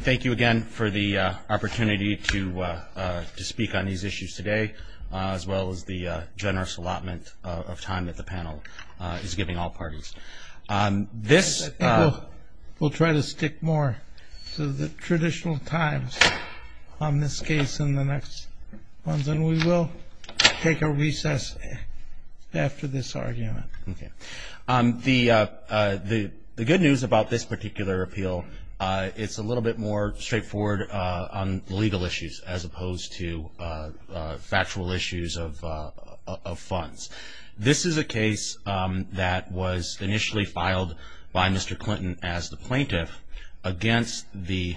Thank you again for the opportunity to speak on these issues today, as well as the generous allotment of time that the panel is giving all parties. We'll try to stick more to the traditional times on this case than the next ones, and we will take a recess after this argument. The good news about this particular appeal, it's a little bit more straightforward on legal issues as opposed to factual issues of funds. This is a case that was initially filed by Mr. Clinton as the plaintiff against the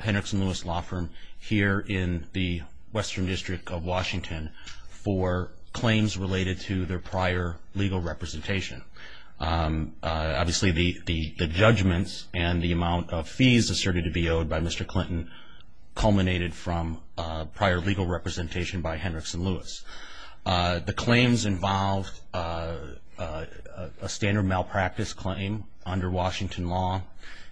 Hendricks & Lewis law firm here in the Western District of Washington for claims related to their prior legal representation. Obviously, the judgments and the amount of fees asserted to be owed by Mr. Clinton culminated from prior legal representation by Hendricks & Lewis. The claims involved a standard malpractice claim under Washington law,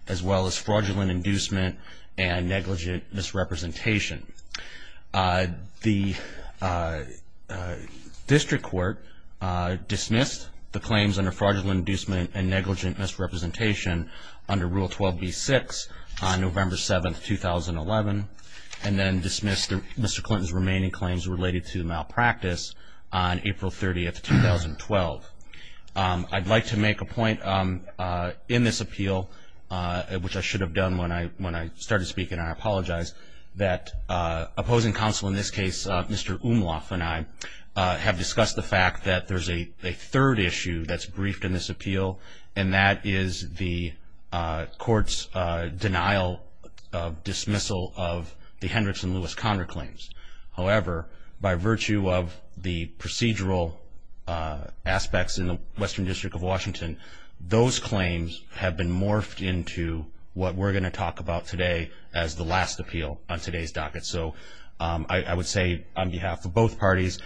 as well as fraudulent inducement and negligent misrepresentation. The District Court dismissed the claims under fraudulent inducement and negligent misrepresentation under Rule 12b-6 on November 7, 2011, and then dismissed Mr. Clinton's remaining claims related to malpractice on April 30, 2012. I'd like to make a point in this appeal, which I should have done when I started speaking, and I apologize, that opposing counsel in this case, Mr. Umloff and I, have discussed the fact that there's a third issue that's briefed in this appeal, and that is the court's denial of dismissal of the Hendricks & Lewis-Conner claims. However, by virtue of the procedural aspects in the Western District of Washington, those claims have been morphed into what we're going to talk about today as the last appeal on today's docket. So I would say on behalf of both parties,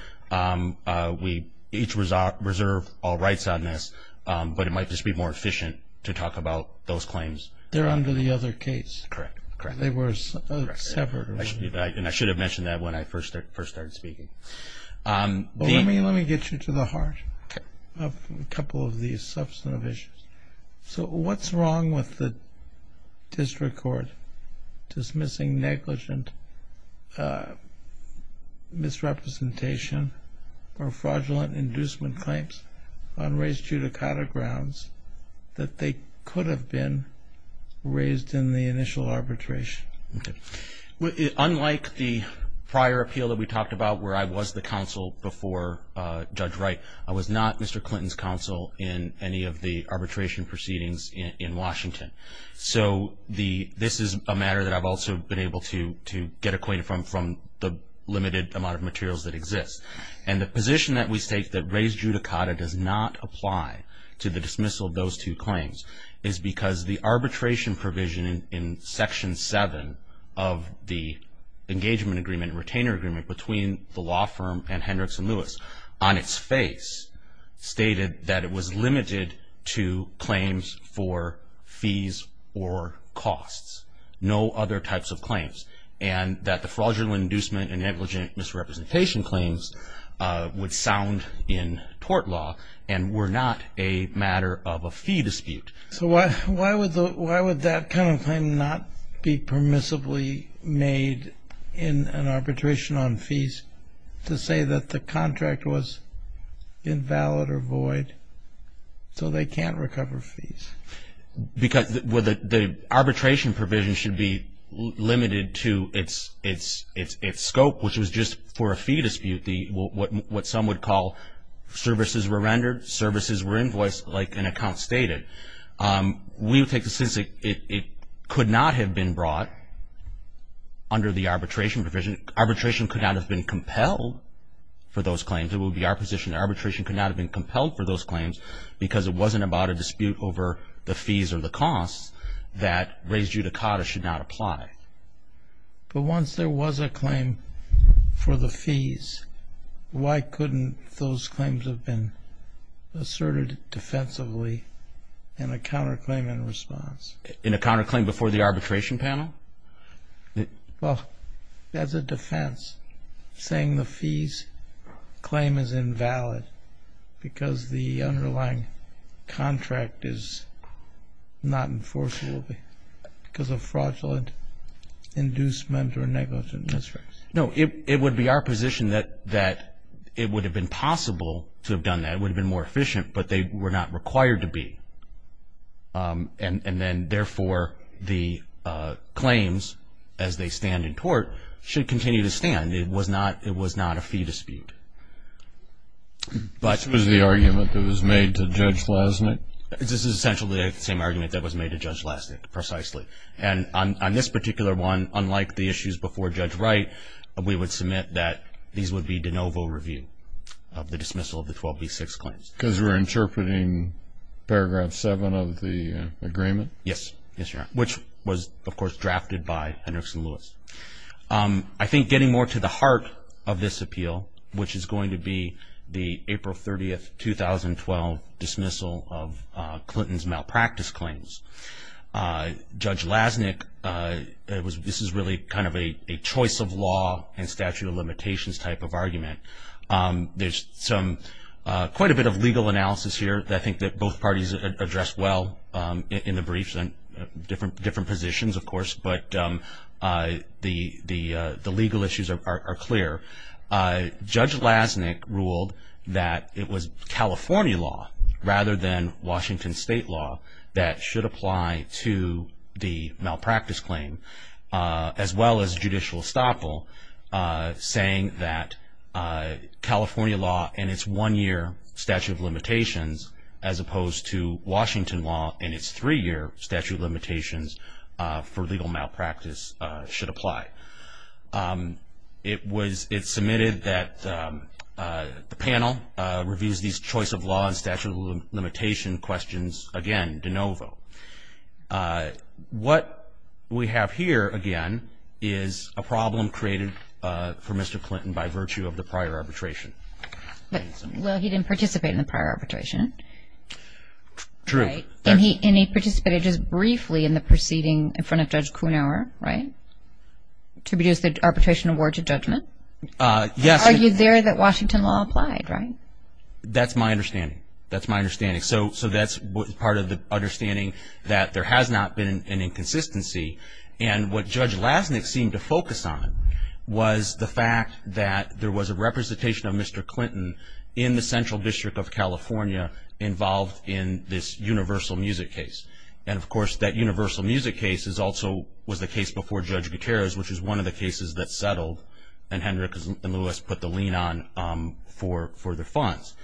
we each reserve all rights on this, but it might just be more efficient to talk about those claims. They're under the other case. Correct. They were severed. And I should have mentioned that when I first started speaking. Let me get you to the heart of a couple of these substantive issues. So what's wrong with the district court dismissing negligent misrepresentation or fraudulent inducement claims on race judicata grounds that they could have been raised in the initial arbitration? Unlike the prior appeal that we talked about where I was the counsel before Judge Wright, I was not Mr. Clinton's counsel in any of the arbitration proceedings in Washington. So this is a matter that I've also been able to get acquainted from the limited amount of materials that exist. And the position that we take that race judicata does not apply to the dismissal of those two claims is because the arbitration provision in Section 7 of the engagement agreement and retainer agreement between the law firm and Hendricks & Lewis on its face stated that it was limited to claims for fees or costs, no other types of claims, and that the fraudulent inducement and negligent misrepresentation claims would sound in tort law and were not a matter of a fee dispute. So why would that kind of claim not be permissibly made in an arbitration on fees to say that the contract was invalid or void, so they can't recover fees? Because the arbitration provision should be limited to its scope, which was just for a fee dispute, what some would call services were rendered, services were invoiced like an account stated. We would take the sense that it could not have been brought under the arbitration provision. Arbitration could not have been compelled for those claims. It would be our position that arbitration could not have been compelled for those claims because it wasn't about a dispute over the fees or the costs that race judicata should not apply. But once there was a claim for the fees, why couldn't those claims have been asserted defensively in a counterclaim in response? In a counterclaim before the arbitration panel? Well, as a defense, saying the fees claim is invalid because the underlying contract is not enforceable because of fraudulent inducement or negligence. That's right. No, it would be our position that it would have been possible to have done that. It would have been more efficient, but they were not required to be. And then, therefore, the claims, as they stand in court, should continue to stand. It was not a fee dispute. This was the argument that was made to Judge Lasnik? This is essentially the same argument that was made to Judge Lasnik, precisely. And on this particular one, unlike the issues before Judge Wright, we would submit that these would be de novo review of the dismissal of the 12B6 claims. Because we're interpreting Paragraph 7 of the agreement? Yes. Yes, Your Honor. Which was, of course, drafted by Henderson-Lewis. I think getting more to the heart of this appeal, which is going to be the April 30, 2012 dismissal of Clinton's malpractice claims. Judge Lasnik, this is really kind of a choice of law and statute of limitations type of argument. There's quite a bit of legal analysis here that I think both parties addressed well in the briefs, different positions, of course, but the legal issues are clear. Judge Lasnik ruled that it was California law, rather than Washington State law, that should apply to the malpractice claim. As well as Judicial Estoppel saying that California law and its one-year statute of limitations, as opposed to Washington law and its three-year statute of limitations for legal malpractice, should apply. It was submitted that the panel reviews these choice of law and statute of limitation questions, again, de novo. What we have here, again, is a problem created for Mr. Clinton by virtue of the prior arbitration. Well, he didn't participate in the prior arbitration. True. And he participated just briefly in the proceeding in front of Judge Kuhnhauer, right? To reduce the arbitration award to judgment? Yes. He argued there that Washington law applied, right? That's my understanding. That's my understanding. So that's part of the understanding that there has not been an inconsistency. And what Judge Lasnik seemed to focus on was the fact that there was a representation of Mr. Clinton in the Central District of California involved in this Universal Music case. And, of course, that Universal Music case also was the case before Judge Gutierrez, which is one of the cases that settled and Hendrick and Lewis put the lien on for the funds.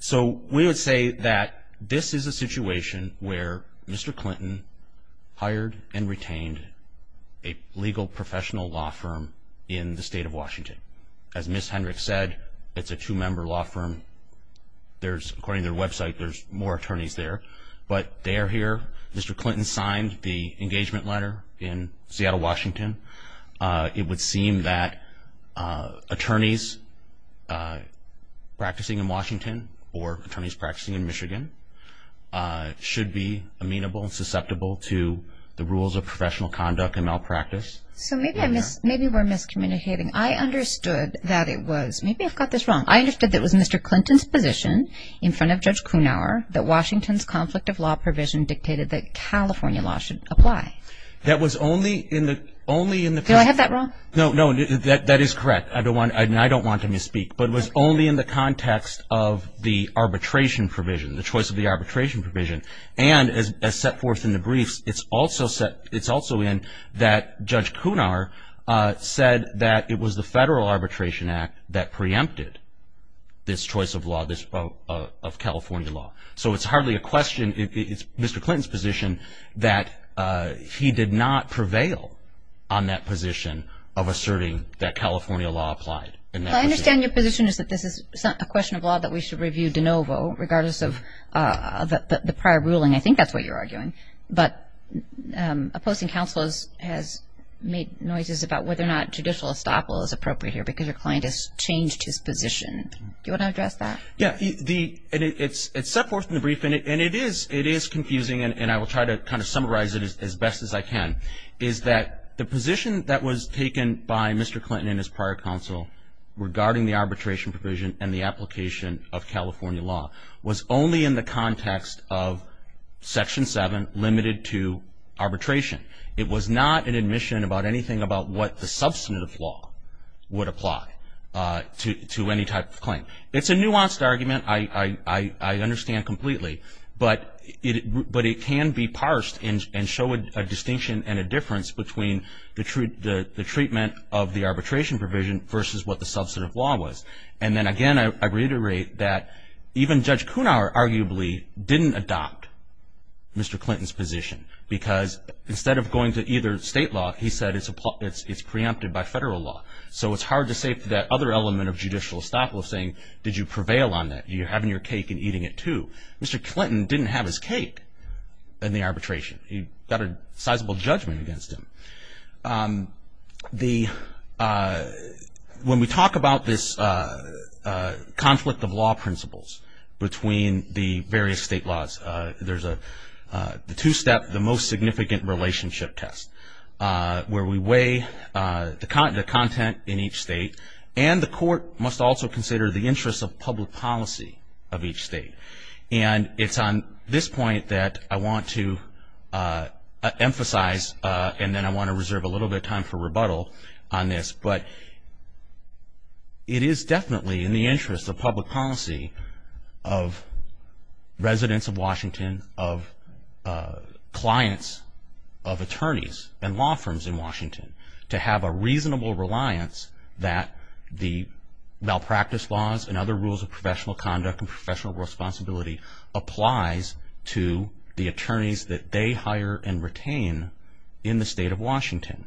So we would say that this is a situation where Mr. Clinton hired and retained a legal professional law firm in the state of Washington. As Ms. Hendrick said, it's a two-member law firm. According to their website, there's more attorneys there. But they are here. Mr. Clinton signed the engagement letter in Seattle, Washington. It would seem that attorneys practicing in Washington or attorneys practicing in Michigan should be amenable and susceptible to the rules of professional conduct and malpractice. So maybe we're miscommunicating. I understood that it was. Maybe I've got this wrong. I understood that it was Mr. Clinton's position in front of Judge Kunauer that Washington's conflict of law provision dictated that California law should apply. Do I have that wrong? No, no. That is correct. I don't want to misspeak. But it was only in the context of the arbitration provision, the choice of the arbitration provision. And as set forth in the briefs, it's also in that Judge Kunauer said that it was the Federal Arbitration Act that preempted this choice of law, of California law. So it's hardly a question. It's Mr. Clinton's position that he did not prevail on that position of asserting that California law applied. Well, I understand your position is that this is a question of law that we should review de novo, regardless of the prior ruling. I think that's what you're arguing. But opposing counsel has made noises about whether or not judicial estoppel is appropriate here because your client has changed his position. Do you want to address that? Yeah. And it's set forth in the brief, and it is confusing, and I will try to kind of summarize it as best as I can, is that the position that was taken by Mr. Clinton and his prior counsel regarding the arbitration provision and the application of California law was only in the context of Section 7, limited to arbitration. It was not an admission about anything about what the substantive law would apply to any type of claim. It's a nuanced argument. I understand completely. But it can be parsed and show a distinction and a difference between the treatment of the arbitration provision versus what the substantive law was. And then, again, I reiterate that even Judge Cunar, arguably, didn't adopt Mr. Clinton's position because instead of going to either state law, he said it's preempted by federal law. So it's hard to say that other element of judicial estoppel is saying, did you prevail on that? You're having your cake and eating it too. Mr. Clinton didn't have his cake in the arbitration. He got a sizable judgment against him. When we talk about this conflict of law principles between the various state laws, there's a two-step, the most significant relationship test, where we weigh the content in each state and the court must also consider the interests of public policy of each state. And it's on this point that I want to emphasize, and then I want to reserve a little bit of time for rebuttal on this, but it is definitely in the interest of public policy of residents of Washington, of clients of attorneys and law firms in Washington, to have a reasonable reliance that the malpractice laws and other rules of professional conduct and professional responsibility applies to the attorneys that they hire and retain in the state of Washington.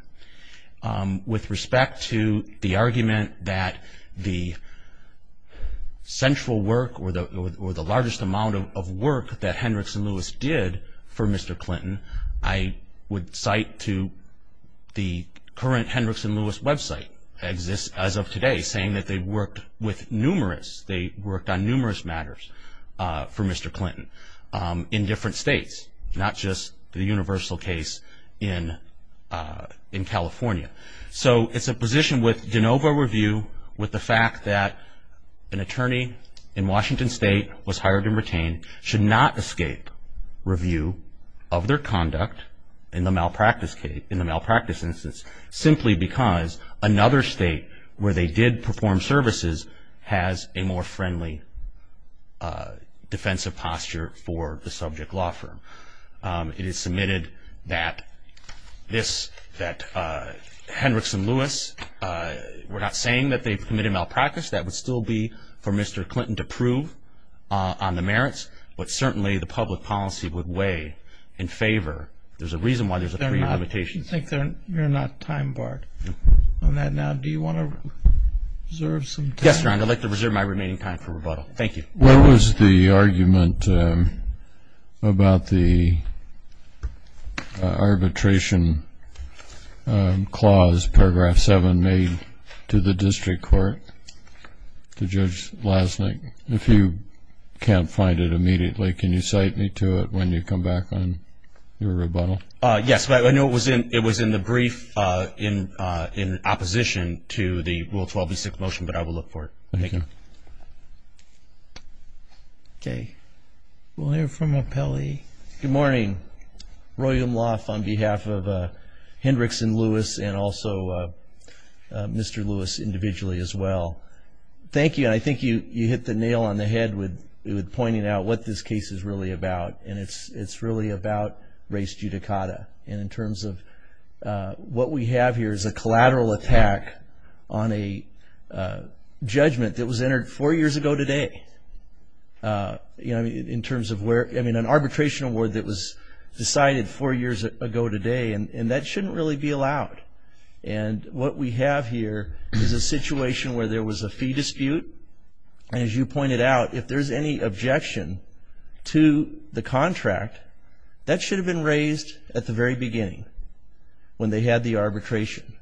With respect to the argument that the central work or the largest amount of work that Hendricks and Lewis did for Mr. Clinton, I would cite to the current Hendricks and Lewis website as of today, saying that they worked with numerous, they worked on numerous matters for Mr. Clinton in different states, not just the universal case in California. So it's a position with de novo review with the fact that an attorney in Washington State was hired and retained should not escape review of their conduct in the malpractice case, in the malpractice instance, simply because another state where they did perform services has a more friendly defensive posture for the subject law firm. It is submitted that this, that Hendricks and Lewis were not saying that they committed malpractice. That would still be for Mr. Clinton to prove on the merits, but certainly the public policy would weigh in favor. There's a reason why there's a prelimitation. I think you're not time barred on that now. Do you want to reserve some time? Yes, Your Honor. I'd like to reserve my remaining time for rebuttal. Thank you. What was the argument about the arbitration clause, paragraph 7, made to the district court to Judge Lasnik? If you can't find it immediately, can you cite me to it when you come back on your rebuttal? Yes. I know it was in the brief in opposition to the Rule 12b-6 motion, but I will look for it. Thank you. Okay. We'll hear from O'Pelley. Good morning. Roy Umlauf on behalf of Hendricks and Lewis and also Mr. Lewis individually as well. Thank you. I think you hit the nail on the head with pointing out what this case is really about, and it's really about race judicata. And in terms of what we have here is a collateral attack on a judgment that was entered four years ago today. I mean, an arbitration award that was decided four years ago today, and that shouldn't really be allowed. And what we have here is a situation where there was a fee dispute. And as you pointed out, if there's any objection to the contract, that should have been raised at the very beginning when they had the arbitration.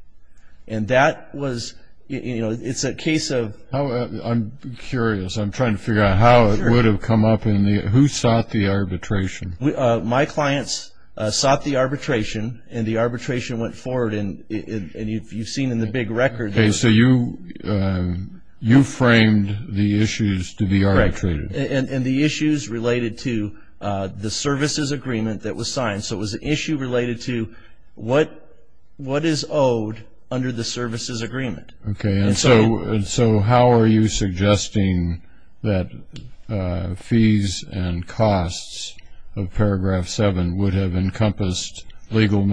And that was – it's a case of – I'm curious. I'm trying to figure out how it would have come up in the – who sought the arbitration? My clients sought the arbitration, and the arbitration went forward. And you've seen in the big record – Okay. So you framed the issues to be arbitrated. And the issues related to the services agreement that was signed. So it was an issue related to what is owed under the services agreement. Okay. And so how are you suggesting that fees and costs of Paragraph 7 would have encompassed legal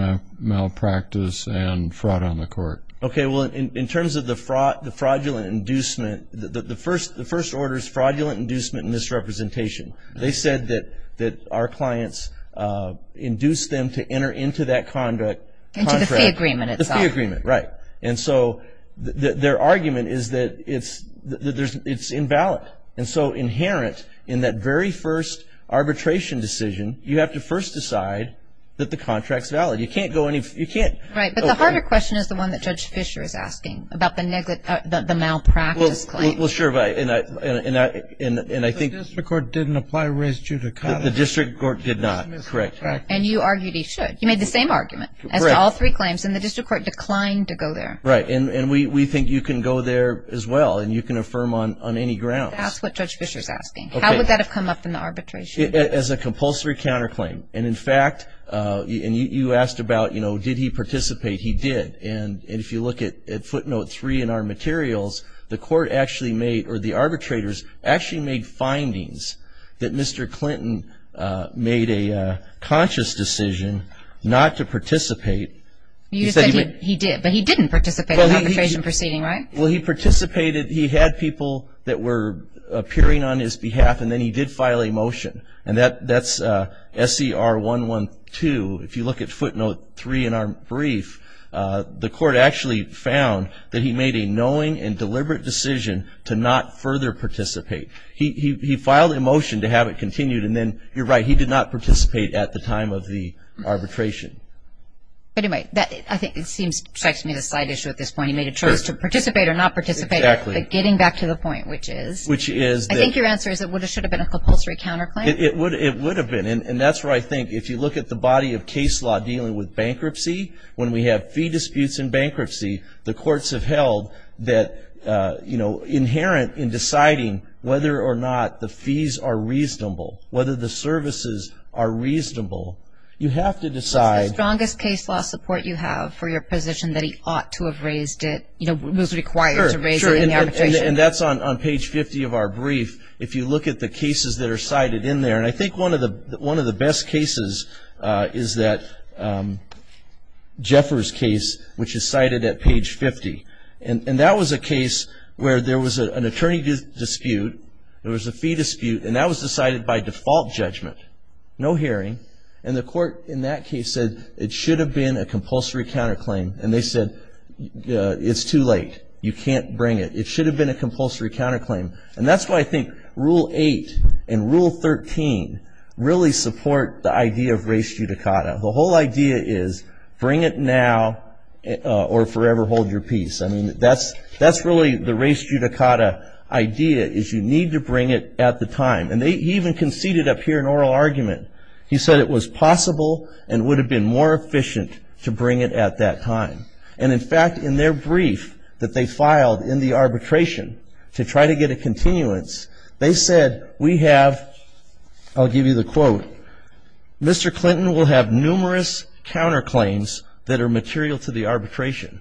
malpractice and fraud on the court? Okay. Well, in terms of the fraudulent inducement, the first order is fraudulent inducement and misrepresentation. They said that our clients induced them to enter into that contract. Into the fee agreement itself. The fee agreement, right. And so their argument is that it's invalid. And so inherent in that very first arbitration decision, you have to first decide that the contract's valid. You can't go any – you can't – Right. But the harder question is the one that Judge Fischer is asking about the malpractice claim. Well, sure. And I think – The district court didn't apply res judicata. The district court did not. Correct. And you argued he should. You made the same argument. Correct. As to all three claims. And the district court declined to go there. Right. And we think you can go there as well, and you can affirm on any grounds. That's what Judge Fischer's asking. Okay. How would that have come up in the arbitration? As a compulsory counterclaim. Right. And, in fact, you asked about, you know, did he participate. He did. And if you look at footnote three in our materials, the court actually made – or the arbitrators actually made findings that Mr. Clinton made a conscious decision not to participate. You said he did, but he didn't participate in the arbitration proceeding, right? Well, he participated – he had people that were appearing on his behalf, and then he did file a motion. And that's SCR 112. If you look at footnote three in our brief, the court actually found that he made a knowing and deliberate decision to not further participate. He filed a motion to have it continued, and then, you're right, he did not participate at the time of the arbitration. But, anyway, I think it seems – strikes me as a side issue at this point. He made a choice to participate or not participate. Exactly. But getting back to the point, which is? Which is? I think your answer is it should have been a compulsory counterclaim. It would have been. And that's where I think if you look at the body of case law dealing with bankruptcy, when we have fee disputes in bankruptcy, the courts have held that, you know, inherent in deciding whether or not the fees are reasonable, whether the services are reasonable, you have to decide – What's the strongest case law support you have for your position that he ought to have raised it, you know, was required to raise it in the arbitration? And that's on page 50 of our brief, if you look at the cases that are cited in there. And I think one of the best cases is that Jeffers case, which is cited at page 50. And that was a case where there was an attorney dispute, there was a fee dispute, and that was decided by default judgment, no hearing. And the court in that case said it should have been a compulsory counterclaim, and they said it's too late, you can't bring it. It should have been a compulsory counterclaim. And that's why I think Rule 8 and Rule 13 really support the idea of res judicata. The whole idea is bring it now or forever hold your peace. I mean, that's really the res judicata idea is you need to bring it at the time. And he even conceded up here an oral argument. He said it was possible and would have been more efficient to bring it at that time. And, in fact, in their brief that they filed in the arbitration to try to get a continuance, they said we have, I'll give you the quote, Mr. Clinton will have numerous counterclaims that are material to the arbitration.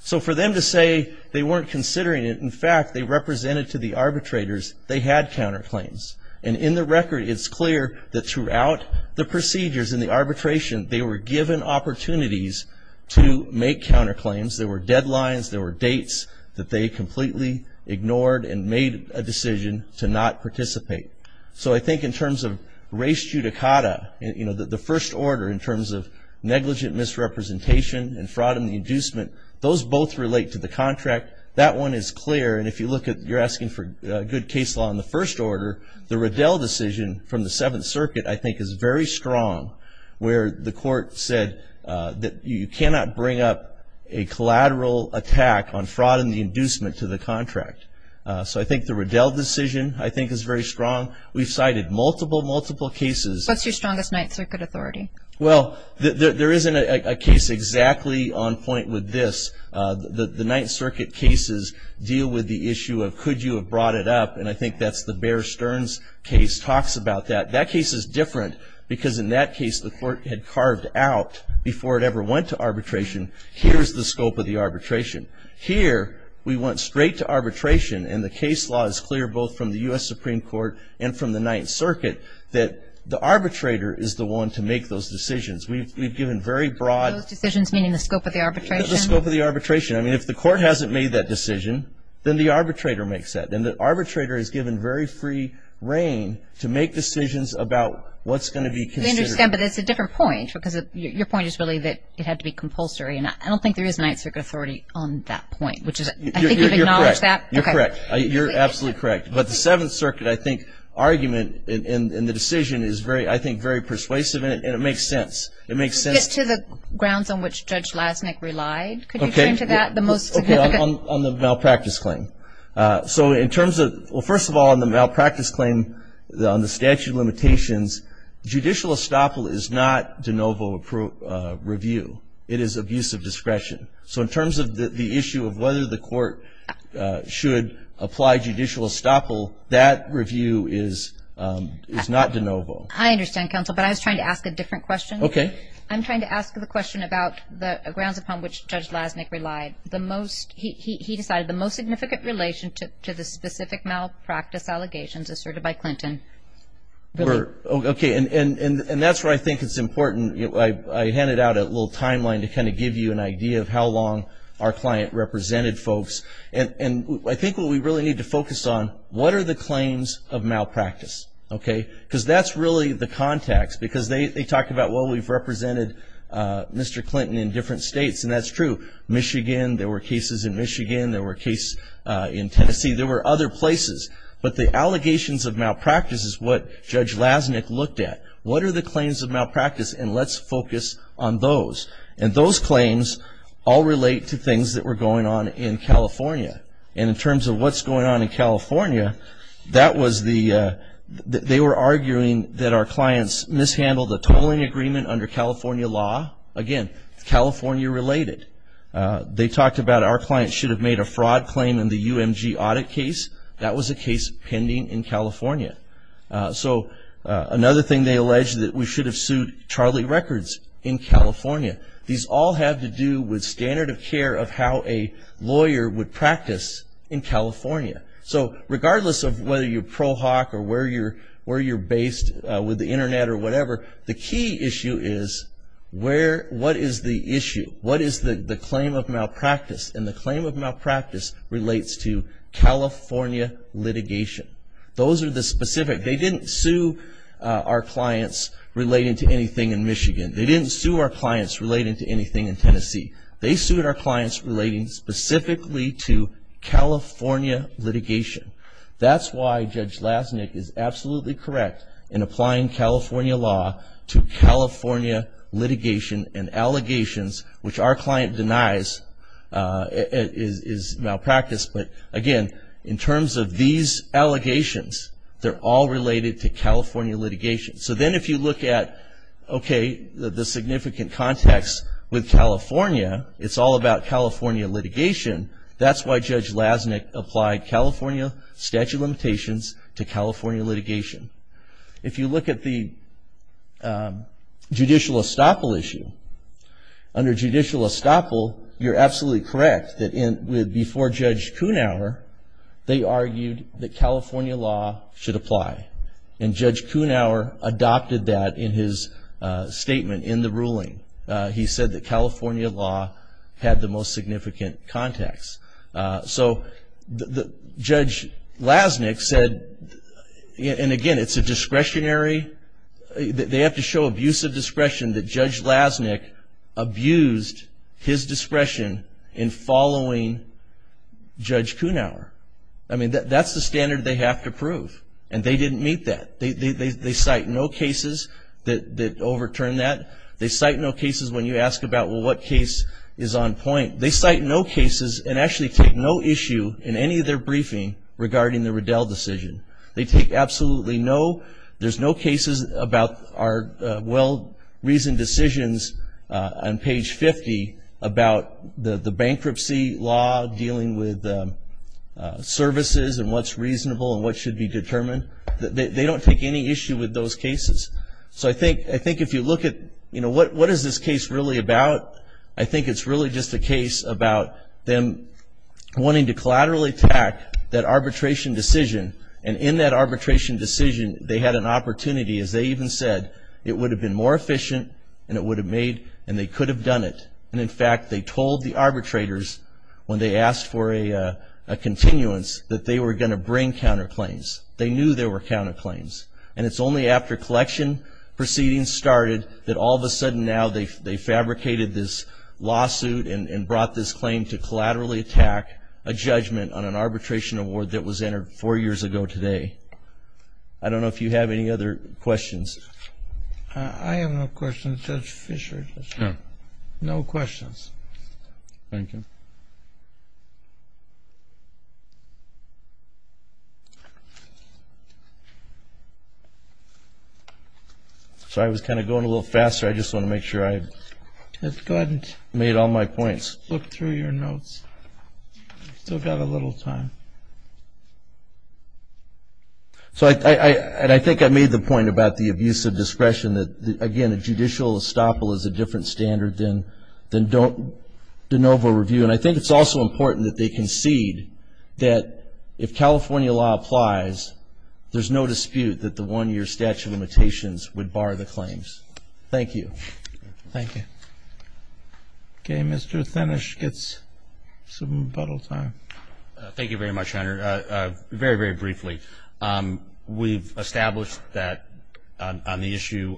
So for them to say they weren't considering it, in fact, they represented to the arbitrators they had counterclaims. And in the record it's clear that throughout the procedures in the arbitration they were given opportunities to make counterclaims. There were deadlines. There were dates that they completely ignored and made a decision to not participate. So I think in terms of res judicata, you know, the first order in terms of negligent misrepresentation and fraud and inducement, those both relate to the contract. That one is clear. And if you look at you're asking for good case law in the first order, the Riddell decision from the Seventh Circuit, I think, is very strong where the court said that you cannot bring up a collateral attack on fraud and the inducement to the contract. So I think the Riddell decision, I think, is very strong. We've cited multiple, multiple cases. What's your strongest Ninth Circuit authority? Well, there isn't a case exactly on point with this. The Ninth Circuit cases deal with the issue of could you have brought it up, and I think that's the Bear Stearns case talks about that. That case is different because in that case, the court had carved out before it ever went to arbitration, here's the scope of the arbitration. Here we went straight to arbitration, and the case law is clear both from the U.S. Supreme Court and from the Ninth Circuit that the arbitrator is the one to make those decisions. We've given very broad. Those decisions meaning the scope of the arbitration? The scope of the arbitration. I mean, if the court hasn't made that decision, then the arbitrator makes that. Then the arbitrator is given very free reign to make decisions about what's going to be considered. I understand, but that's a different point because your point is really that it had to be compulsory, and I don't think there is a Ninth Circuit authority on that point, which is I think you've acknowledged that. You're correct. You're absolutely correct. But the Seventh Circuit, I think, argument in the decision is very, I think, very persuasive, and it makes sense. It makes sense. To get to the grounds on which Judge Lasnik relied, could you turn to that? On the malpractice claim. So in terms of, well, first of all, on the malpractice claim on the statute of limitations, judicial estoppel is not de novo review. It is abuse of discretion. So in terms of the issue of whether the court should apply judicial estoppel, that review is not de novo. I understand, counsel, but I was trying to ask a different question. Okay. I'm trying to ask the question about the grounds upon which Judge Lasnik relied. He decided the most significant relation to the specific malpractice allegations asserted by Clinton. Okay, and that's where I think it's important. I handed out a little timeline to kind of give you an idea of how long our client represented folks. And I think what we really need to focus on, what are the claims of malpractice? Okay, because that's really the context. Because they talk about, well, we've represented Mr. Clinton in different states, and that's true. Michigan, there were cases in Michigan. There were cases in Tennessee. There were other places. But the allegations of malpractice is what Judge Lasnik looked at. What are the claims of malpractice? And let's focus on those. And those claims all relate to things that were going on in California. And in terms of what's going on in California, that was the, they were arguing that our clients mishandled the tolling agreement under California law. Again, California-related. They talked about our clients should have made a fraud claim in the UMG audit case. That was a case pending in California. So another thing they alleged, that we should have sued Charlie Records in California. These all have to do with standard of care of how a lawyer would practice in California. So regardless of whether you're pro hoc or where you're based with the Internet or whatever, the key issue is, what is the issue? What is the claim of malpractice? And the claim of malpractice relates to California litigation. Those are the specific, they didn't sue our clients relating to anything in Michigan. They didn't sue our clients relating to anything in Tennessee. They sued our clients relating specifically to California litigation. That's why Judge Lasnik is absolutely correct in applying California law to California litigation and allegations, which our client denies is malpractice. But again, in terms of these allegations, they're all related to California litigation. So then if you look at, okay, the significant context with California, it's all about California litigation. That's why Judge Lasnik applied California statute of limitations to California litigation. If you look at the judicial estoppel issue, under judicial estoppel, you're absolutely correct that before Judge Kuhnauer, they argued that California law should apply. And Judge Kuhnauer adopted that in his statement in the ruling. He said that California law had the most significant context. So Judge Lasnik said, and again, it's a discretionary, they have to show abusive discretion that Judge Lasnik abused his discretion in following Judge Kuhnauer. I mean, that's the standard they have to prove. And they didn't meet that. They cite no cases that overturn that. They cite no cases when you ask about, well, what case is on point? They cite no cases and actually take no issue in any of their briefing regarding the Riddell decision. They take absolutely no, there's no cases about our well-reasoned decisions on page 50 about the bankruptcy law dealing with services and what's reasonable and what should be determined. They don't take any issue with those cases. So I think if you look at, you know, what is this case really about? I think it's really just a case about them wanting to collaterally attack that arbitration decision. And in that arbitration decision, they had an opportunity, as they even said, it would have been more efficient and it would have made, and they could have done it. And, in fact, they told the arbitrators when they asked for a continuance that they were going to bring counterclaims. They knew there were counterclaims. And it's only after collection proceedings started that all of a sudden now they fabricated this lawsuit and brought this claim to collaterally attack a judgment on an arbitration award that was entered four years ago today. I don't know if you have any other questions. I have no questions, Judge Fischer. No questions. Thank you. So I was kind of going a little faster. I just want to make sure I made all my points. Look through your notes. You've still got a little time. So I think I made the point about the abuse of discretion that, again, a judicial estoppel is a different standard than de novo review. And I think it's also important that they concede that if California law applies, there's no dispute that the one-year statute of limitations would bar the claims. Thank you. Thank you. Okay. Mr. Thinnish gets some rebuttal time. Thank you very much. Very, very briefly, we've established that on the issue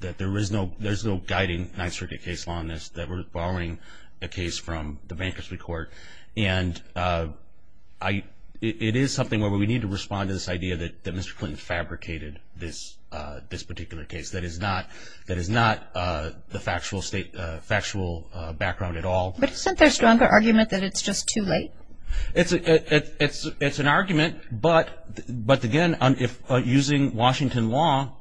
that there is no guiding Ninth Circuit case on this, that we're borrowing a case from the Bankruptcy Court. And it is something where we need to respond to this idea that Mr. Clinton fabricated this particular case. That is not the factual background at all. But isn't there a stronger argument that it's just too late? It's an argument. But, again, using Washington law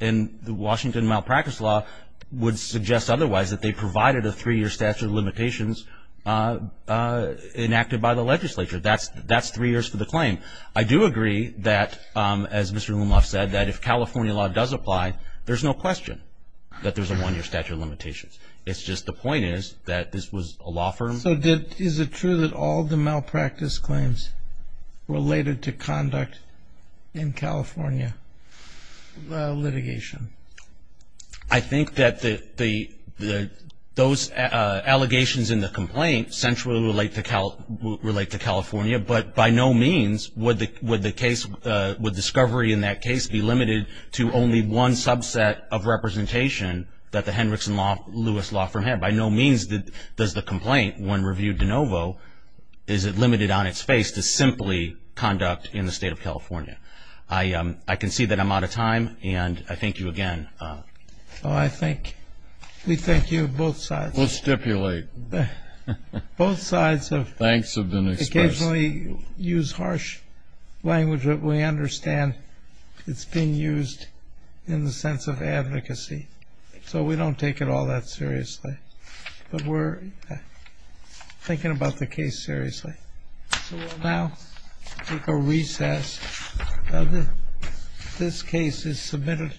and the Washington malpractice law would suggest otherwise, that they provided a three-year statute of limitations enacted by the legislature. That's three years for the claim. I do agree that, as Mr. Lumlauf said, that if California law does apply, there's no question that there's a one-year statute of limitations. It's just the point is that this was a law firm. So is it true that all the malpractice claims related to conduct in California litigation? I think that those allegations in the complaint centrally relate to California, but by no means would discovery in that case be limited to only one subset of representation that the Hendrickson-Lewis law firm had. By no means does the complaint, when reviewed de novo, is it limited on its face to simply conduct in the state of California. I concede that I'm out of time, and I thank you again. Well, I thank you both sides. We'll stipulate. Both sides have occasionally used harsh language, but we understand it's being used in the sense of advocacy. So we don't take it all that seriously. But we're thinking about the case seriously. So we'll now take a recess. This case is submitted.